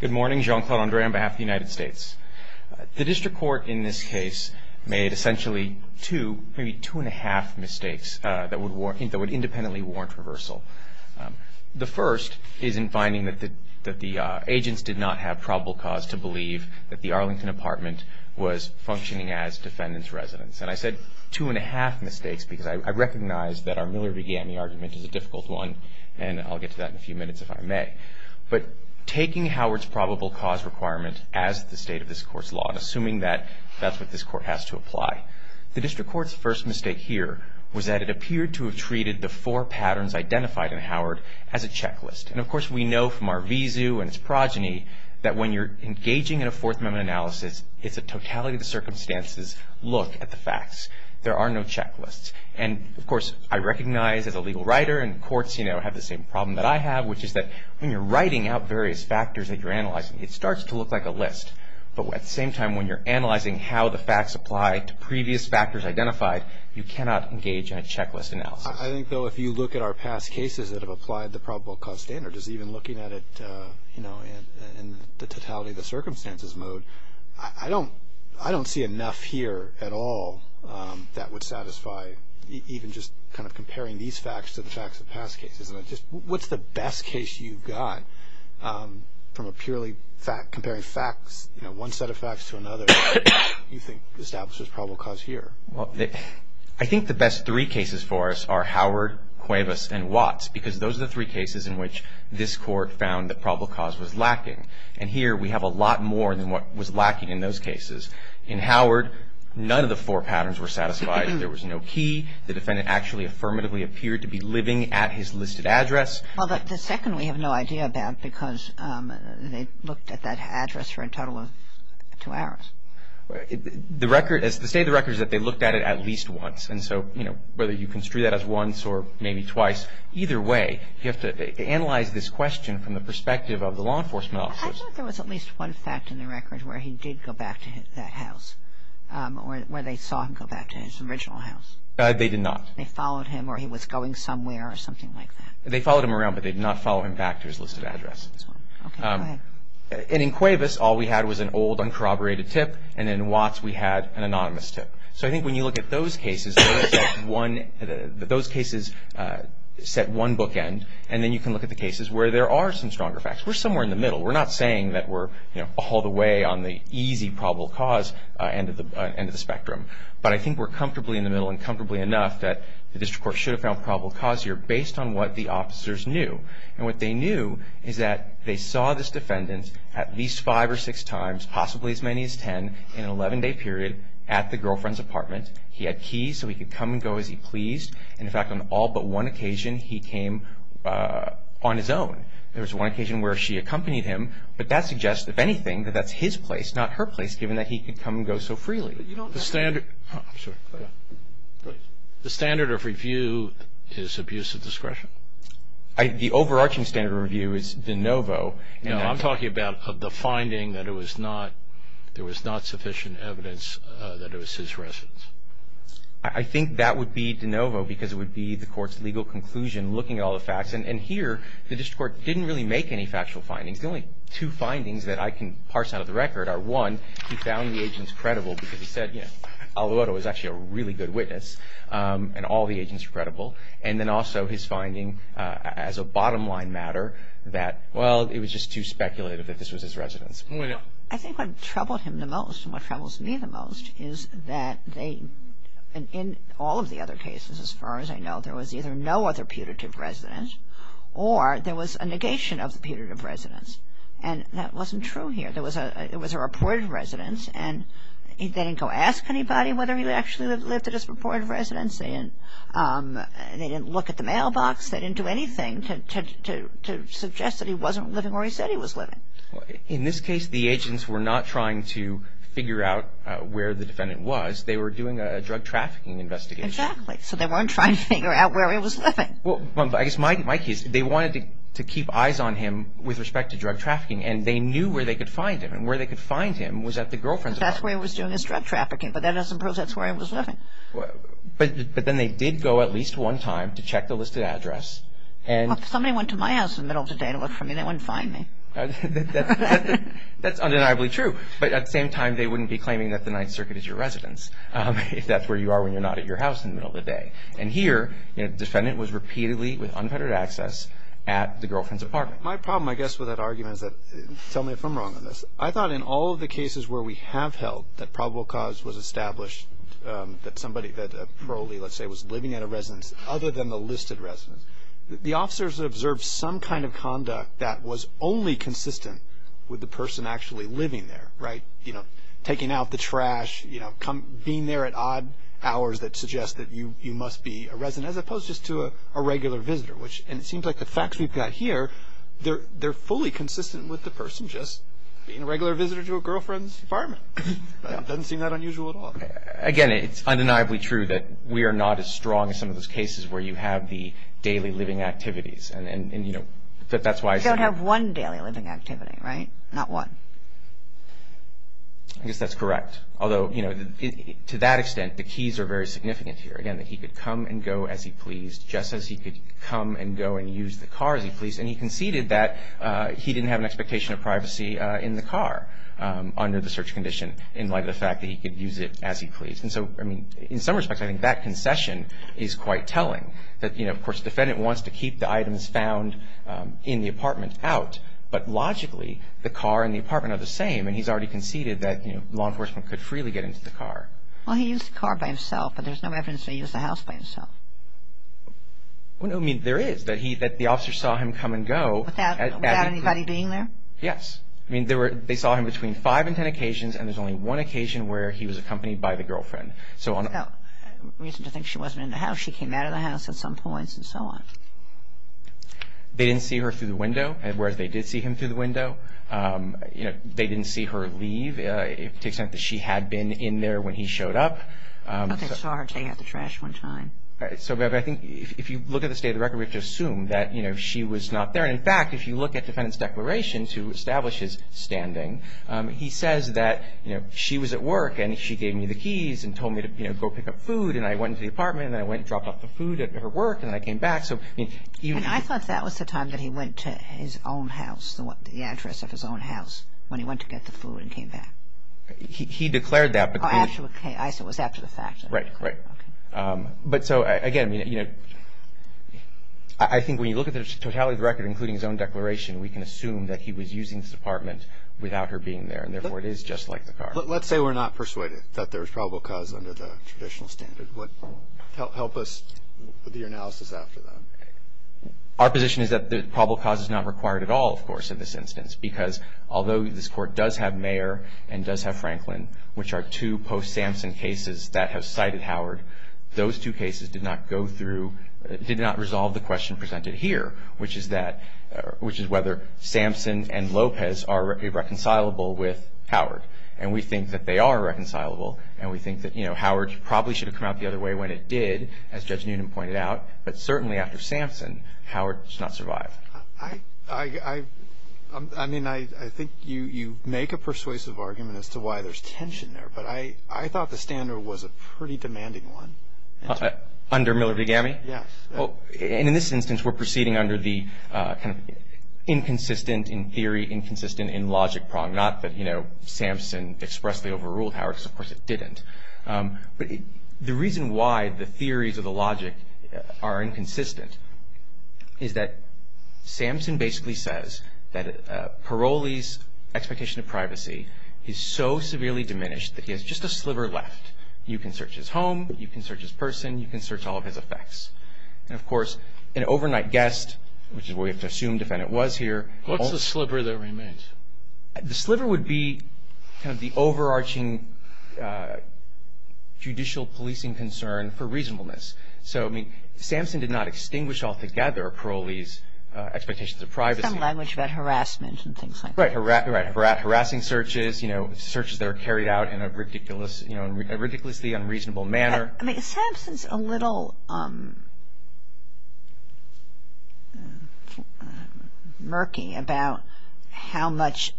Good morning. Jean-Claude Grandberry on behalf of the United States. The District Court in this case made essentially two, maybe two and a half mistakes that would independently warrant reversal. The first is in finding that the agents did not have probable cause to believe that the Arlington apartment was functioning as defendant's residence. And I said two and a half mistakes because I recognize that our Miller-Begamme argument is a difficult one and I'll get to that in a few minutes if I may. But taking Howard's probable cause requirement as the state of this court's law and assuming that that's what this court has to apply. The District Court's first mistake here was that it appeared to have treated the four patterns identified in Howard as a checklist. And of course we know from our vizu and its progeny that when you're engaging in a Fourth Amendment analysis, it's a totality of the circumstances look at the facts. There are no checklists. And of course I recognize as a legal writer and courts have the same problem that I have which is that when you're writing out various factors that you're analyzing, it starts to look like a list. But at the same time when you're analyzing how the facts apply to previous factors identified, you cannot engage in a checklist analysis. I think though if you look at our past cases that have applied the probable cause standard, just even looking at it in the totality of the circumstances mode, I don't see enough here at all that would satisfy even just kind of comparing these facts to the facts of past cases. What's the best case you've got from a purely fact comparing facts, one set of facts to another you think establishes probable cause here? Well, I think the best three cases for us are Howard, Cuevas and Watts because those are the three cases in which this court found that probable cause was lacking. And here we have a lot more than what was lacking in those cases. In Howard, none of the four patterns were satisfied. There was no key. The defendant actually affirmatively appeared to be living at his listed address. Well, the second we have no idea about because they looked at that address for a total of two hours. The state of the record is that they looked at it at least once. And so whether you construe that as once or maybe twice, either way you have to analyze this question from the perspective of the law enforcement officers. I think there was at least one fact in the record where he did go back to that house, where they saw him go back to his original house. They did not. They followed him or he was going somewhere or something like that. They followed him around but they did not follow him back to his listed address. Okay, go ahead. And in Cuevas, all we had was an old, uncorroborated tip. And in Watts, we had an anonymous tip. So I think when you look at those cases, those cases set one bookend. And then you can look at the cases where there are some stronger facts. We're somewhere in the middle. We're not saying that we're, you know, all the way on the easy probable cause end of the spectrum. But I think we're comfortably in the middle and comfortably enough that the district court should have found probable cause here based on what the officers knew. And what they knew is that they saw this defendant at least five or six times, possibly as many as ten, in an 11-day period at the girlfriend's apartment. He had keys so he could come and go as he pleased. And, in fact, on all but one occasion, he came on his own. There was one occasion where she accompanied him. But that suggests, if anything, that that's his place, not her place, given that he could come and go so freely. The standard of review is abuse of discretion. The overarching standard of review is de novo. No, I'm talking about the finding that there was not sufficient evidence that it was his residence. I think that would be de novo because it would be the court's legal conclusion looking at all the facts. And here the district court didn't really make any factual findings. The only two findings that I can parse out of the record are, one, he found the agents credible because he said, you know, Alvarado was actually a really good witness and all the agents were credible. And then also his finding as a bottom-line matter that, well, it was just too speculative that this was his residence. I think what troubled him the most and what troubles me the most is that they, in all of the other cases, as far as I know, there was either no other putative residence or there was a negation of the putative residence. And that wasn't true here. It was a reported residence and they didn't go ask anybody whether he actually lived at his reported residence. They didn't look at the mailbox. They didn't do anything to suggest that he wasn't living where he said he was living. In this case, the agents were not trying to figure out where the defendant was. They were doing a drug trafficking investigation. Exactly. So they weren't trying to figure out where he was living. Well, I guess my case, they wanted to keep eyes on him with respect to drug trafficking and they knew where they could find him and where they could find him was at the girlfriend's apartment. That's where he was doing his drug trafficking, but that doesn't prove that's where he was living. But then they did go at least one time to check the listed address and Well, if somebody went to my house in the middle of the day to look for me, they wouldn't find me. That's undeniably true. But at the same time, they wouldn't be claiming that the Ninth Circuit is your residence if that's where you are when you're not at your house in the middle of the day. And here, the defendant was repeatedly with unfettered access at the girlfriend's apartment. My problem, I guess, with that argument is that, tell me if I'm wrong on this, I thought in all of the cases where we have held that probable cause was established that somebody that probably, let's say, was living at a residence other than the listed residence, the officers observed some kind of conduct that was only consistent with the person actually living there, right? Taking out the trash, being there at odd hours that suggests that you must be a resident as opposed just to a regular visitor, and it seems like the facts we've got here, they're fully consistent with the person just being a regular visitor to a girlfriend's apartment. It doesn't seem that unusual at all. Again, it's undeniably true that we are not as strong as some of those cases where you have the daily living activities. You don't have one daily living activity, right? Not one. I guess that's correct. Although, to that extent, the keys are very significant here. Again, that he could come and go as he pleased, just as he could come and go and use the car as he pleased, and he conceded that he didn't have an expectation of privacy in the car under the search condition in light of the fact that he could use it as he pleased. In some respects, I think that concession is quite telling. Of course, the defendant wants to keep the items found in the apartment out, but logically the car and the apartment are the same, and he's already conceded that law enforcement could freely get into the car. Well, he used the car by himself, but there's no evidence that he used the house by himself. Well, no, I mean, there is, that the officer saw him come and go. Without anybody being there? Yes. I mean, they saw him between five and ten occasions, and there's only one occasion where he was accompanied by the girlfriend. No reason to think she wasn't in the house. She came out of the house at some points and so on. They didn't see her through the window, whereas they did see him through the window. They didn't see her leave to the extent that she had been in there when he showed up. I thought they saw her take out the trash one time. So, Bev, I think if you look at the state of the record, we have to assume that she was not there. In fact, if you look at the defendant's declaration to establish his standing, he says that she was at work and she gave me the keys and told me to go pick up food, and I went into the apartment and I went and dropped off the food at her work, and I came back. I thought that was the time that he went to his own house, the address of his own house, when he went to get the food and came back. He declared that. Oh, I see. It was after the fact. Right, right. But so, again, you know, I think when you look at the totality of the record, including his own declaration, we can assume that he was using this apartment without her being there, and therefore it is just like the card. Let's say we're not persuaded that there was probable cause under the traditional standard. Help us with your analysis after that. Our position is that probable cause is not required at all, of course, in this instance, because although this Court does have Mayer and does have Franklin, which are two post-Samson cases that have cited Howard, those two cases did not go through, did not resolve the question presented here, which is whether Samson and Lopez are irreconcilable with Howard. And we think that they are reconcilable, and we think that, you know, Howard probably should have come out the other way when it did, as Judge Newnan pointed out, but certainly after Samson, Howard does not survive. I mean, I think you make a persuasive argument as to why there's tension there, but I thought the standard was a pretty demanding one. Under Miller v. Gammie? Yes. And in this instance, we're proceeding under the kind of inconsistent in theory, inconsistent in logic prong, not that, you know, Samson expressly overruled Howard, because of course it didn't. But the reason why the theories of the logic are inconsistent is that Samson basically says that Paroli's expectation of privacy is so severely diminished that he has just a sliver left. You can search his home, you can search his person, you can search all of his effects. And, of course, an overnight guest, which is what we have to assume the defendant was here. What's the sliver that remains? The sliver would be kind of the overarching judicial policing concern for reasonableness. So, I mean, Samson did not extinguish altogether Paroli's expectations of privacy. Some language about harassment and things like that. Right. Harassing searches, you know, searches that are carried out in a ridiculously unreasonable manner. I mean, Samson's a little murky about how much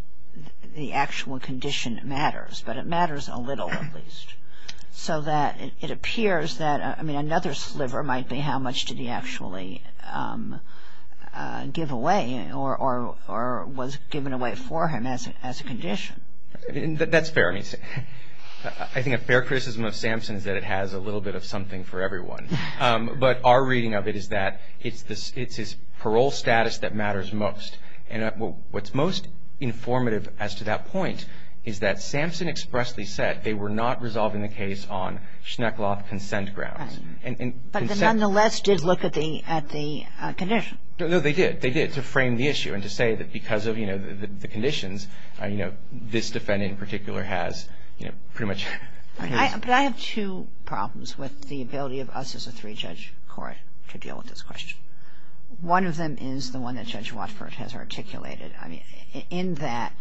the actual condition matters. But it matters a little, at least. So that it appears that, I mean, another sliver might be how much did he actually give away or was given away for him as a condition. That's fair. I mean, I think a fair criticism of Samson is that it has a little bit of something for everyone. But our reading of it is that it's his parole status that matters most. And what's most informative as to that point is that Samson expressly said they were not resolving the case on Schneckloth consent grounds. But they nonetheless did look at the condition. No, they did. But they did to frame the issue and to say that because of, you know, the conditions, you know, this defendant in particular has, you know, pretty much. But I have two problems with the ability of us as a three-judge court to deal with this question. One of them is the one that Judge Watford has articulated. I mean, in that,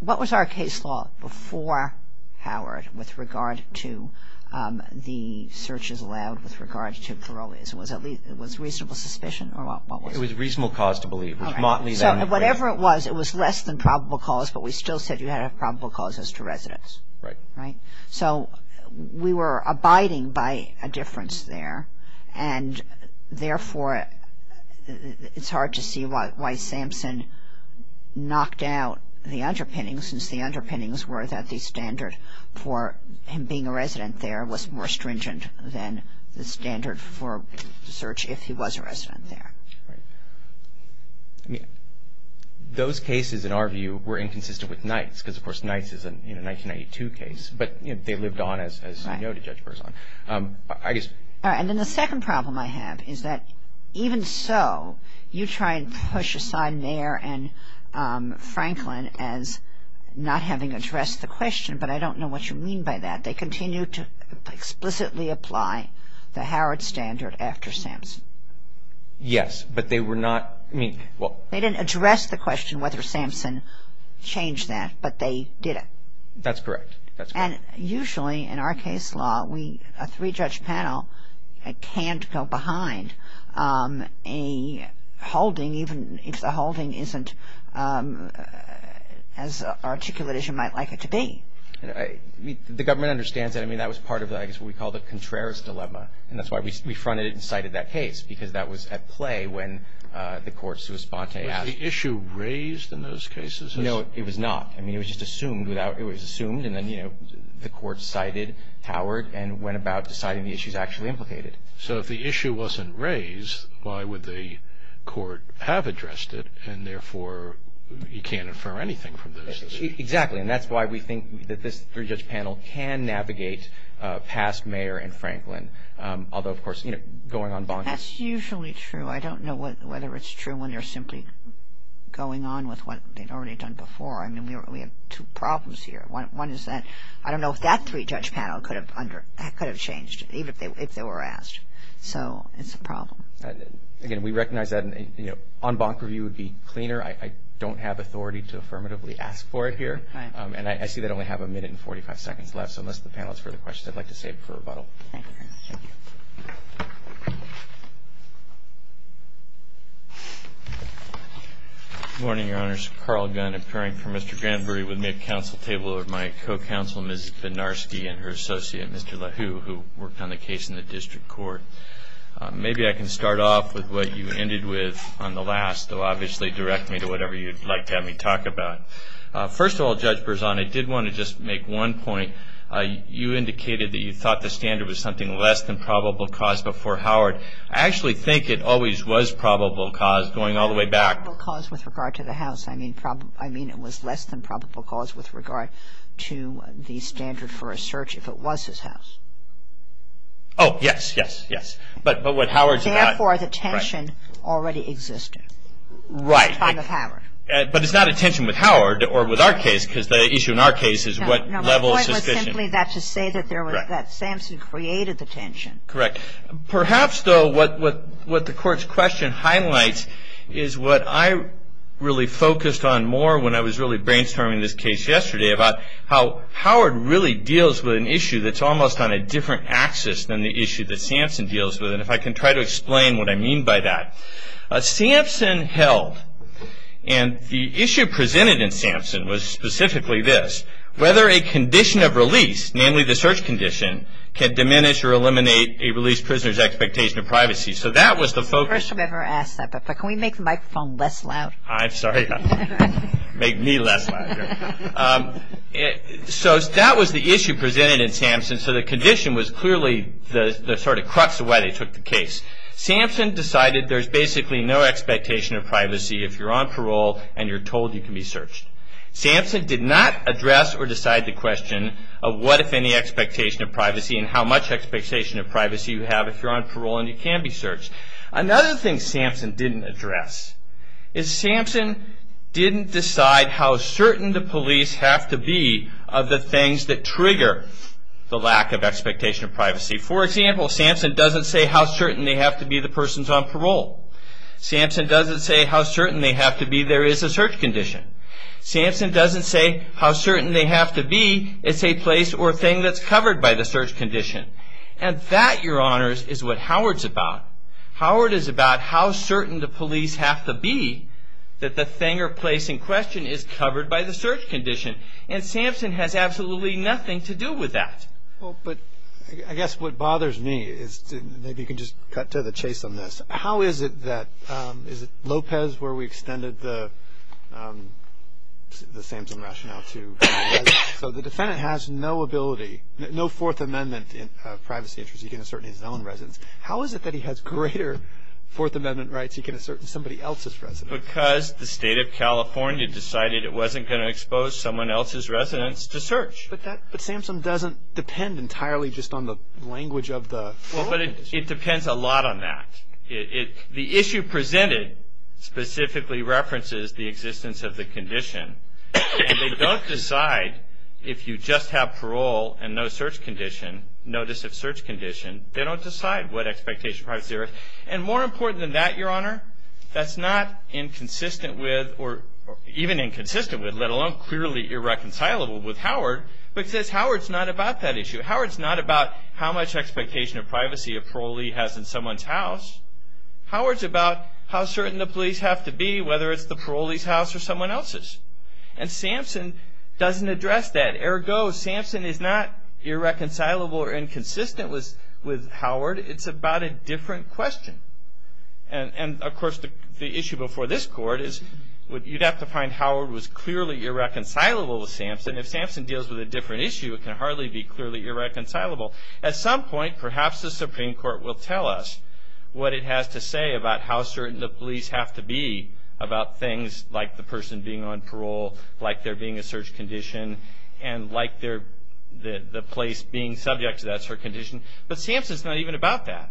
what was our case law before Howard with regard to the searches allowed with regard to Paroli's? Was reasonable suspicion or what was it? It was reasonable cause to believe. Whatever it was, it was less than probable cause, but we still said you had a probable cause as to residence. Right. So we were abiding by a difference there. And therefore, it's hard to see why Samson knocked out the underpinnings since the underpinnings were that the standard for him being a resident there was more stringent than the standard for search if he was a resident there. Right. I mean, those cases, in our view, were inconsistent with Knight's because, of course, Knight's is a 1992 case. But, you know, they lived on as you know the judge works on. Right. I guess. All right. And then the second problem I have is that even so, you try and push aside Mayer and Franklin as not having addressed the question. But I don't know what you mean by that. They continue to explicitly apply the Howard standard after Samson. Yes, but they were not, I mean, well. They didn't address the question whether Samson changed that, but they did it. That's correct. And usually in our case law, a three-judge panel can't go behind a holding even if the holding isn't as articulate as you might like it to be. The government understands that. I mean, that was part of I guess what we call the Contreras dilemma. And that's why we fronted it and cited that case because that was at play when the courts were spontaneously asking. Was the issue raised in those cases? No, it was not. I mean, it was just assumed. It was assumed and then, you know, the court cited Howard and went about deciding the issues actually implicated. So if the issue wasn't raised, why would the court have addressed it and, therefore, you can't infer anything from those? Exactly. And that's why we think that this three-judge panel can navigate past Mayer and Franklin, although, of course, you know, going en banc. That's usually true. I don't know whether it's true when you're simply going on with what they'd already done before. I mean, we have two problems here. One is that I don't know if that three-judge panel could have changed even if they were asked. So it's a problem. Again, we recognize that an en banc review would be cleaner. I don't have authority to affirmatively ask for it here. And I see that I only have a minute and 45 seconds left. So unless the panel has further questions, I'd like to save it for rebuttal. Thank you. Thank you. Good morning, Your Honors. Carl Gunn, appearing for Mr. Granbury with me at counsel table with my co-counsel, Ms. Benarski, and her associate, Mr. LaHue, who worked on the case in the district court. Maybe I can start off with what you ended with on the last. Obviously, direct me to whatever you'd like to have me talk about. First of all, Judge Berzon, I did want to just make one point. You indicated that you thought the standard was something less than probable cause before Howard. I actually think it always was probable cause going all the way back. Probable cause with regard to the house. I mean it was less than probable cause with regard to the standard for a search if it was his house. Oh, yes, yes, yes. But what Howard's about. Therefore, the tension already existed. Right. At the time of Howard. But it's not a tension with Howard or with our case because the issue in our case is what level of suspicion. My point was simply that to say that Samson created the tension. Correct. Perhaps, though, what the court's question highlights is what I really focused on more when I was really brainstorming this case yesterday about how Howard really deals with an issue that's almost on a different axis than the issue that Samson deals with. And if I can try to explain what I mean by that. Samson held and the issue presented in Samson was specifically this. Whether a condition of release, namely the search condition, can diminish or eliminate a released prisoner's expectation of privacy. So that was the focus. I've never asked that before. Can we make the microphone less loud? I'm sorry. Make me less loud. So that was the issue presented in Samson. So the condition was clearly the sort of crux of why they took the case. Samson decided there's basically no expectation of privacy if you're on parole and you're told you can be searched. Samson did not address or decide the question of what if any expectation of privacy and how much expectation of privacy you have if you're on parole and you can be searched. Another thing Samson didn't address is Samson didn't decide how certain the police have to be For example, Samson doesn't say how certain they have to be the person's on parole. Samson doesn't say how certain they have to be there is a search condition. Samson doesn't say how certain they have to be it's a place or thing that's covered by the search condition. And that, Your Honors, is what Howard's about. Howard is about how certain the police have to be that the thing or place in question is covered by the search condition. And Samson has absolutely nothing to do with that. Well, but I guess what bothers me is maybe you can just cut to the chase on this. How is it that, is it Lopez where we extended the Samson rationale to? So the defendant has no ability, no Fourth Amendment privacy interest. He can assert his own residence. How is it that he has greater Fourth Amendment rights? He can assert somebody else's residence. Because the state of California decided it wasn't going to expose someone else's residence to search. But Samson doesn't depend entirely just on the language of the parole condition. Well, but it depends a lot on that. The issue presented specifically references the existence of the condition. And they don't decide if you just have parole and no search condition, notice of search condition. They don't decide what expectation privacy there is. And more important than that, Your Honor, that's not inconsistent with or even inconsistent with, let alone clearly irreconcilable with Howard, because Howard's not about that issue. Howard's not about how much expectation of privacy a parolee has in someone's house. Howard's about how certain the police have to be, whether it's the parolee's house or someone else's. And Samson doesn't address that. Ergo, Samson is not irreconcilable or inconsistent with Howard. It's about a different question. And, of course, the issue before this Court is you'd have to find Howard was clearly irreconcilable with Samson. If Samson deals with a different issue, it can hardly be clearly irreconcilable. At some point, perhaps the Supreme Court will tell us what it has to say about how certain the police have to be about things like the person being on parole, like there being a search condition, and like the place being subject to that search condition. But Samson's not even about that.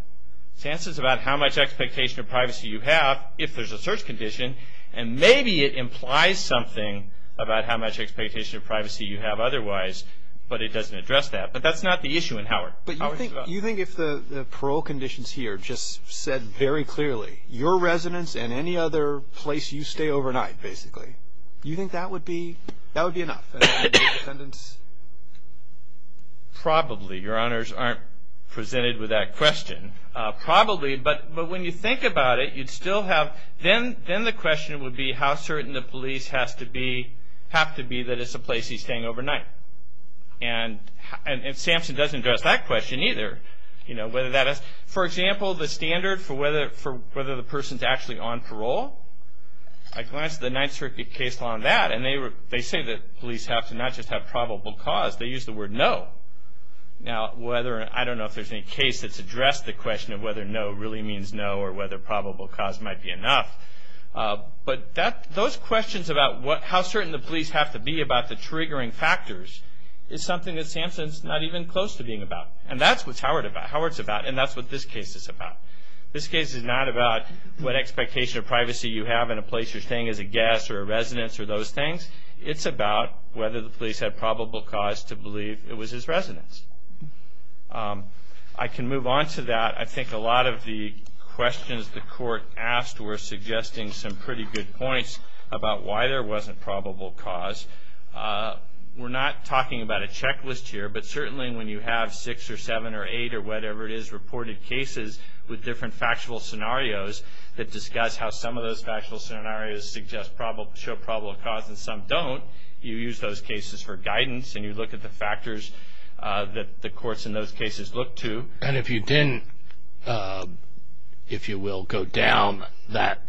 Samson's about how much expectation of privacy you have if there's a search condition, and maybe it implies something about how much expectation of privacy you have otherwise, but it doesn't address that. But that's not the issue in Howard. But you think if the parole conditions here just said very clearly, your residence and any other place you stay overnight, basically, you think that would be enough? Probably. Your Honors aren't presented with that question. Probably, but when you think about it, you'd still have, then the question would be how certain the police have to be that it's a place he's staying overnight. And Samson doesn't address that question either. For example, the standard for whether the person's actually on parole, I glanced at the 9th Circuit case law on that, and they say that police have to not just have probable cause. They use the word no. Now, I don't know if there's any case that's addressed the question of whether no really means no, or whether probable cause might be enough. But those questions about how certain the police have to be about the triggering factors is something that Samson's not even close to being about. And that's what Howard's about, and that's what this case is about. This case is not about what expectation of privacy you have in a place you're staying as a guest or a residence or those things. It's about whether the police had probable cause to believe it was his residence. I can move on to that. I think a lot of the questions the Court asked were suggesting some pretty good points about why there wasn't probable cause. We're not talking about a checklist here, but certainly when you have six or seven or eight or whatever it is reported cases with different factual scenarios that discuss how some of those factual scenarios show probable cause and some don't, you use those cases for guidance, and you look at the factors that the courts in those cases look to. And if you didn't, if you will, go down that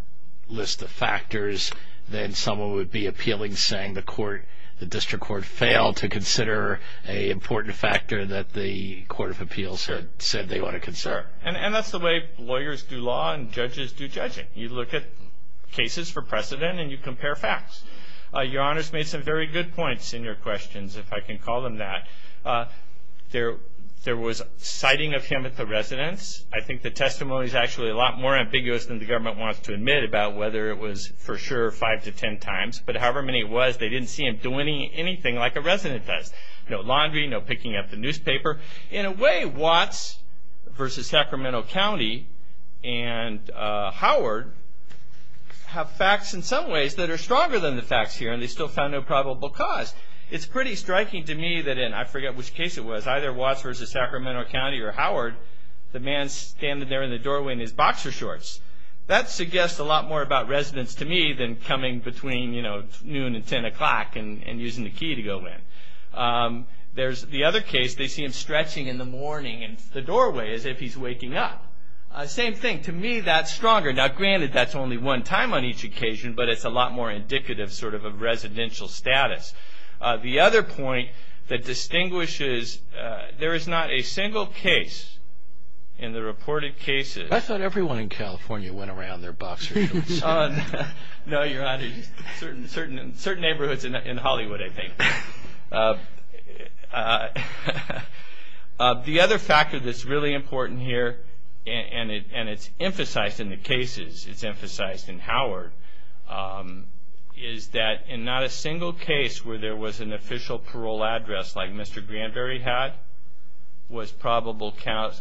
list of factors, then someone would be appealing saying the District Court failed to consider an important factor that the Court of Appeals had said they want to consider. And that's the way lawyers do law and judges do judging. You look at cases for precedent and you compare facts. Your Honors made some very good points in your questions, if I can call them that. There was citing of him at the residence. I think the testimony is actually a lot more ambiguous than the government wants to admit about whether it was for sure five to ten times, but however many it was, they didn't see him doing anything like a resident does. No laundry, no picking up the newspaper. In a way, Watts versus Sacramento County and Howard have facts in some ways that are stronger than the facts here, and they still found no probable cause. It's pretty striking to me that in, I forget which case it was, either Watts versus Sacramento County or Howard, the man standing there in the doorway in his boxer shorts. That suggests a lot more about residence to me than coming between noon and ten o'clock and using the key to go in. The other case, they see him stretching in the morning in the doorway as if he's waking up. Same thing. To me, that's stronger. Now, granted, that's only one time on each occasion, but it's a lot more indicative sort of of residential status. The other point that distinguishes, there is not a single case in the reported cases. I thought everyone in California went around in their boxer shorts. No, Your Honor. Certain neighborhoods in Hollywood, I think. The other factor that's really important here, and it's emphasized in the cases, it's emphasized in Howard, is that in not a single case where there was an official parole address like Mr. Granberry had, was probable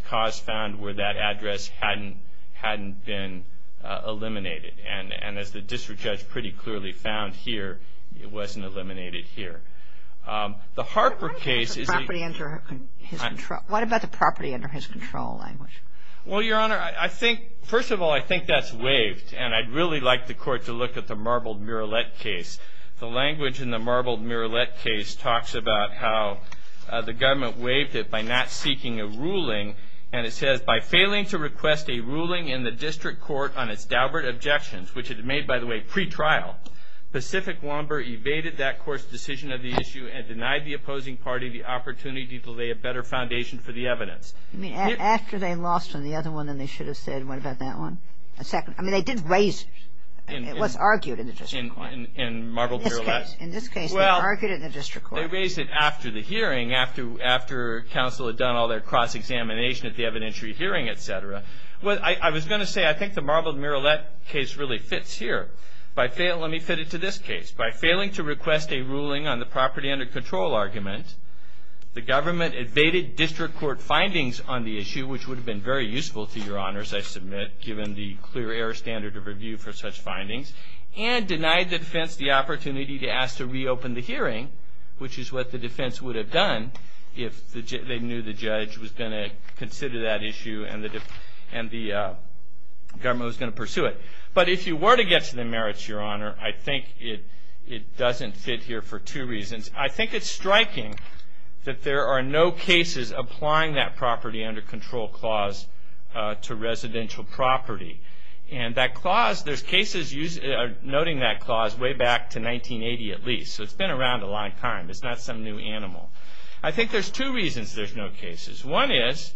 cause found where that address hadn't been eliminated. And as the district judge pretty clearly found here, it wasn't eliminated here. The Harper case is a- What about the property under his control language? Well, Your Honor, first of all, I think that's waived, and I'd really like the Court to look at the Marbled Murillette case. The language in the Marbled Murillette case talks about how the government waived it by not seeking a ruling, and it says, by failing to request a ruling in the district court on its doublet objections, which it made, by the way, pretrial, Pacific Lomber evaded that court's decision of the issue and denied the opposing party the opportunity to lay a better foundation for the evidence. I mean, after they lost on the other one, then they should have said, what about that one? I mean, they did raise, it was argued in the district court. In Marbled Murillette. In this case, they argued it in the district court. Well, they raised it after the hearing, after counsel had done all their cross-examination at the evidentiary hearing, et cetera. I was going to say, I think the Marbled Murillette case really fits here. Let me fit it to this case. By failing to request a ruling on the property under control argument, the government evaded district court findings on the issue, which would have been very useful to Your Honors, I submit, given the clear error standard of review for such findings, and denied the defense the opportunity to ask to reopen the hearing, which is what the defense would have done if they knew the judge was going to consider that issue and the government was going to pursue it. But if you were to get to the merits, Your Honor, I think it doesn't fit here for two reasons. I think it's striking that there are no cases applying that property under control clause to residential property. And that clause, there's cases noting that clause way back to 1980 at least, so it's been around a long time. It's not some new animal. I think there's two reasons there's no cases. One is,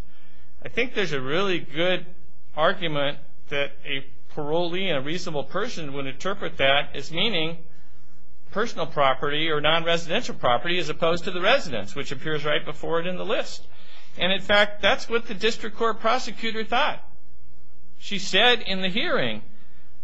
I think there's a really good argument that a parolee and a reasonable person would interpret that as meaning personal property or non-residential property as opposed to the residence, which appears right before it in the list. And, in fact, that's what the district court prosecutor thought. She said in the hearing,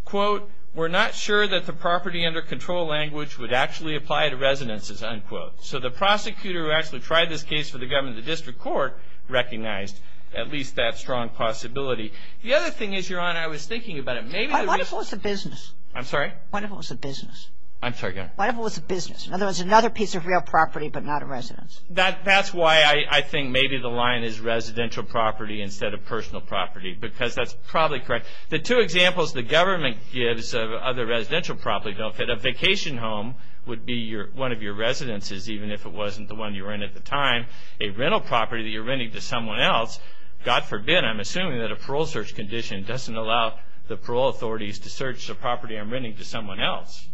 quote, we're not sure that the property under control language would actually apply to residences, unquote. So the prosecutor who actually tried this case for the government, the district court recognized at least that strong possibility. The other thing is, Your Honor, I was thinking about it. Maybe the reason. What if it was a business? I'm sorry? What if it was a business? I'm sorry, Your Honor. What if it was a business? In other words, another piece of real property but not a residence. That's why I think maybe the line is residential property instead of personal property because that's probably correct. The two examples the government gives of other residential property don't fit. A vacation home would be one of your residences, even if it wasn't the one you were in at the time. A rental property that you're renting to someone else, God forbid, I'm assuming that a parole search condition doesn't allow the parole authorities to search the property I'm renting to someone else.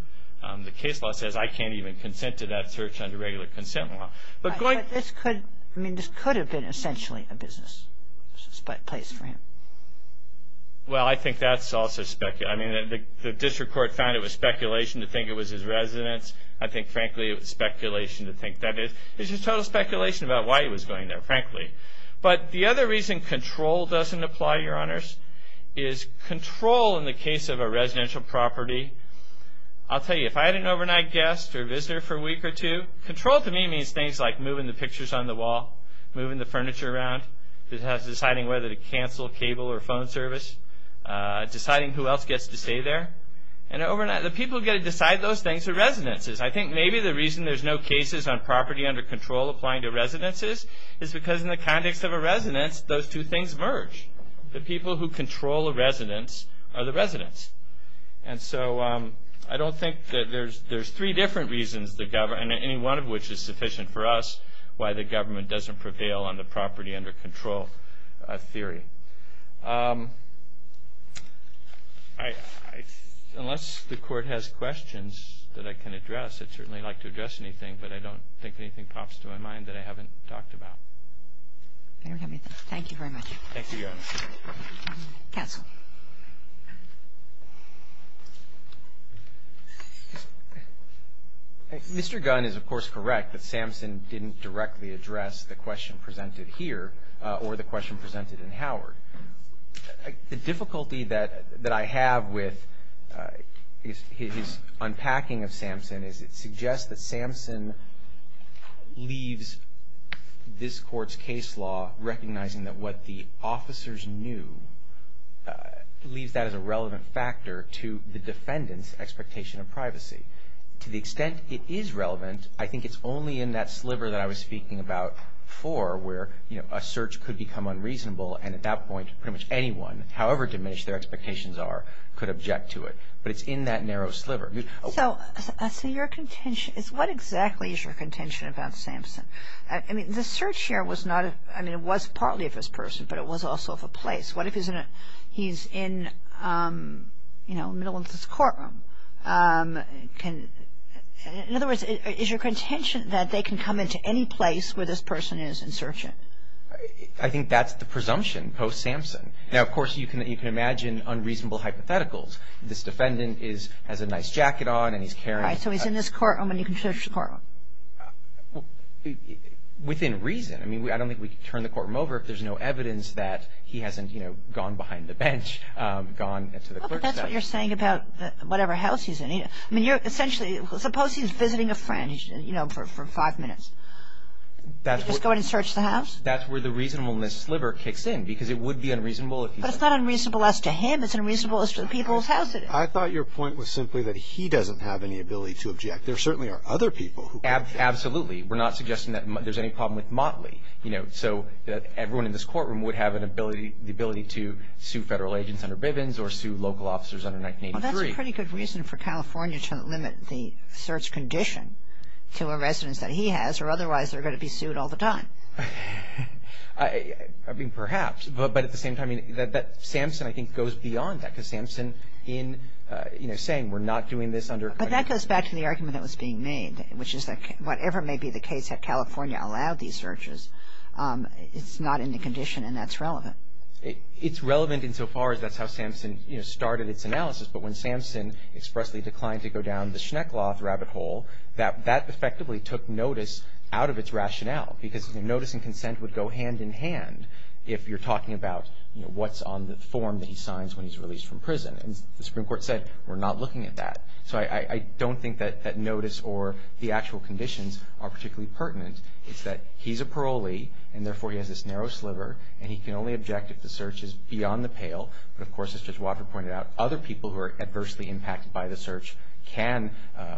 The case law says I can't even consent to that search under regular consent law. But this could have been essentially a business place for him. Well, I think that's also speculation. I mean, the district court found it was speculation to think it was his residence. I think, frankly, it was speculation to think that is. It's just total speculation about why he was going there, frankly. But the other reason control doesn't apply, Your Honors, is control in the case of a residential property. I'll tell you, if I had an overnight guest or visitor for a week or two, control to me means things like moving the pictures on the wall, moving the furniture around, deciding whether to cancel cable or phone service, deciding who else gets to stay there. The people who get to decide those things are residences. I think maybe the reason there's no cases on property under control applying to residences is because in the context of a residence, those two things merge. The people who control a residence are the residents. And so I don't think that there's three different reasons, any one of which is sufficient for us, why the government doesn't prevail on the property under control theory. Unless the Court has questions that I can address, I'd certainly like to address anything, but I don't think anything pops to my mind that I haven't talked about. I don't have anything. Thank you very much. Thank you, Your Honors. Counsel. Mr. Gunn is, of course, correct that Samson didn't directly address the question presented here or the question presented in Howard. The difficulty that I have with his unpacking of Samson is it suggests that Samson leaves this Court's case law recognizing that what the officers knew leaves that as a relevant factor to the defendant's expectation of privacy. To the extent it is relevant, I think it's only in that sliver that I was speaking about before where a search could become unreasonable and at that point pretty much anyone, however diminished their expectations are, could object to it. But it's in that narrow sliver. So your contention is what exactly is your contention about Samson? I mean, the search here was not a – I mean, it was partly of his person, but it was also of a place. What if he's in a – he's in, you know, middle of this courtroom? In other words, is your contention that they can come into any place where this person is and search him? I think that's the presumption post-Samson. Now, of course, you can imagine unreasonable hypotheticals. This defendant is – has a nice jacket on and he's carrying – All right, so he's in this courtroom and you can search the courtroom. Within reason. I mean, I don't think we can turn the courtroom over if there's no evidence that he hasn't, you know, gone behind the bench, gone to the clerk's desk. Well, but that's what you're saying about whatever house he's in. I mean, you're essentially – suppose he's visiting a friend, you know, for five minutes. That's where – Just go in and search the house? But it's not unreasonable as to him. It's unreasonable as to the people's house it is. I thought your point was simply that he doesn't have any ability to object. There certainly are other people who can object. Absolutely. We're not suggesting that there's any problem with Motley, you know, so that everyone in this courtroom would have an ability – the ability to sue federal agents under Bivens or sue local officers under 1983. Well, that's a pretty good reason for California to limit the search condition to a residence that he has, or otherwise they're going to be sued all the time. I mean, perhaps, but at the same time, I mean, that – Samson, I think, goes beyond that because Samson in, you know, saying we're not doing this under – But that goes back to the argument that was being made, which is that whatever may be the case that California allowed these searches, it's not in the condition and that's relevant. It's relevant insofar as that's how Samson, you know, started its analysis. But when Samson expressly declined to go down the Schneckloth rabbit hole, that effectively took notice out of its rationale because notice and consent would go hand-in-hand if you're talking about, you know, what's on the form that he signs when he's released from prison. And the Supreme Court said we're not looking at that. So I don't think that notice or the actual conditions are particularly pertinent. It's that he's a parolee and, therefore, he has this narrow sliver and he can only object if the search is beyond the pale. But, of course, as Judge Wofford pointed out, other people who are adversely impacted by the search can,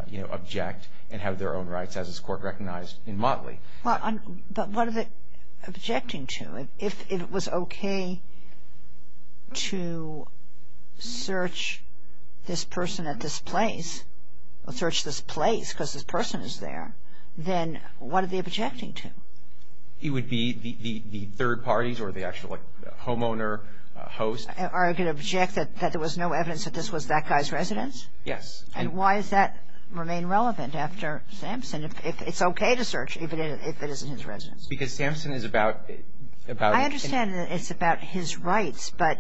you know, object and have their own rights, as this Court recognized in Motley. Well, but what are they objecting to? If it was okay to search this person at this place, or search this place because this person is there, then what are they objecting to? It would be the third parties or the actual, like, homeowner, host. Are they going to object that there was no evidence that this was that guy's residence? Yes. And why does that remain relevant after Samson? If it's okay to search even if it isn't his residence. Because Samson is about – I understand that it's about his rights. But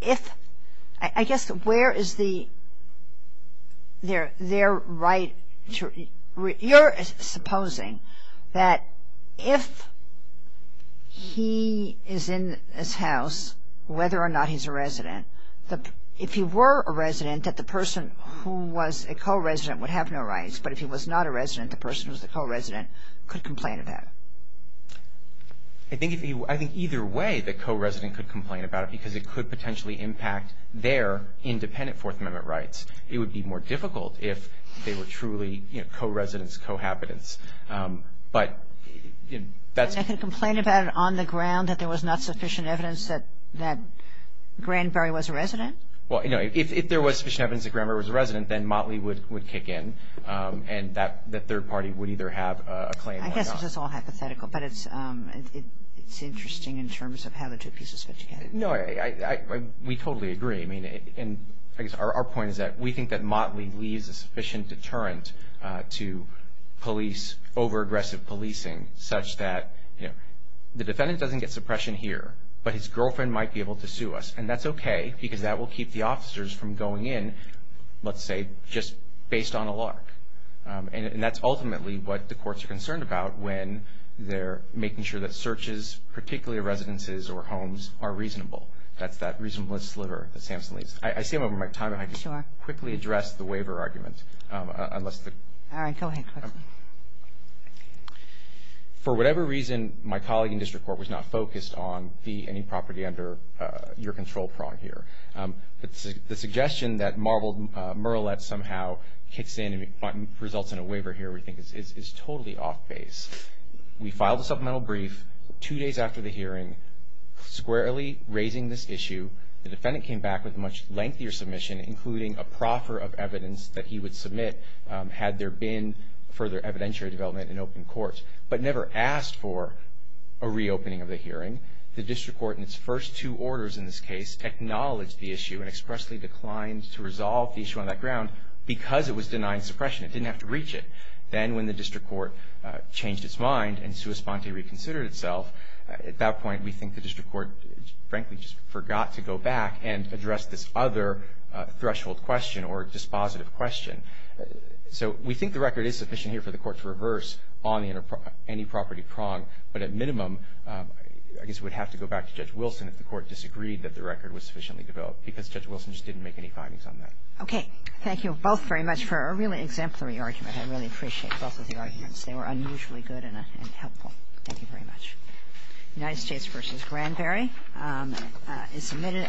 if – I guess where is the – their right to – you're supposing that if he is in this house, whether or not he's a resident, if he were a resident, that the person who was a co-resident would have no rights. But if he was not a resident, the person who was the co-resident could complain about it. I think either way the co-resident could complain about it because it could potentially impact their independent Fourth Amendment rights. It would be more difficult if they were truly, you know, co-residents, co-habitants. But that's – And they could complain about it on the ground that there was not sufficient evidence that Granberry was a resident? Well, you know, if there was sufficient evidence that Granberry was a resident, then Motley would kick in and that third party would either have a claim or not. I guess it's just all hypothetical, but it's interesting in terms of how the two pieces fit together. No, we totally agree. I mean, I guess our point is that we think that Motley leaves a sufficient deterrent to police over-aggressive policing such that, you know, the defendant doesn't get suppression here, but his girlfriend might be able to sue us. And that's okay because that will keep the officers from going in, let's say, just based on a lark. And that's ultimately what the courts are concerned about when they're making sure that searches, particularly of residences or homes, are reasonable. That's that reasonableness sliver that Samson leaves. I see I'm over my time. If I could quickly address the waiver argument. All right, go ahead. For whatever reason, my colleague in district court was not focused on the property under your control prong here. The suggestion that marbled murrelet somehow kicks in and results in a waiver here, we think, is totally off base. We filed a supplemental brief two days after the hearing, squarely raising this issue. The defendant came back with a much lengthier submission, including a proffer of evidence that he would submit had there been further evidentiary development in open court, but never asked for a reopening of the hearing. The district court in its first two orders in this case acknowledged the issue and expressly declined to resolve the issue on that ground because it was denying suppression. It didn't have to reach it. Then when the district court changed its mind and sui sponte reconsidered itself, at that point we think the district court frankly just forgot to go back and address this other threshold question or dispositive question. So we think the record is sufficient here for the court to reverse on any property prong, but at minimum I guess we'd have to go back to Judge Wilson if the court disagreed that the record was sufficiently developed because Judge Wilson just didn't make any findings on that. Okay. Thank you both very much for a really exemplary argument. I really appreciate both of the arguments. They were unusually good and helpful. Thank you very much. United States v. Granberry is submitted.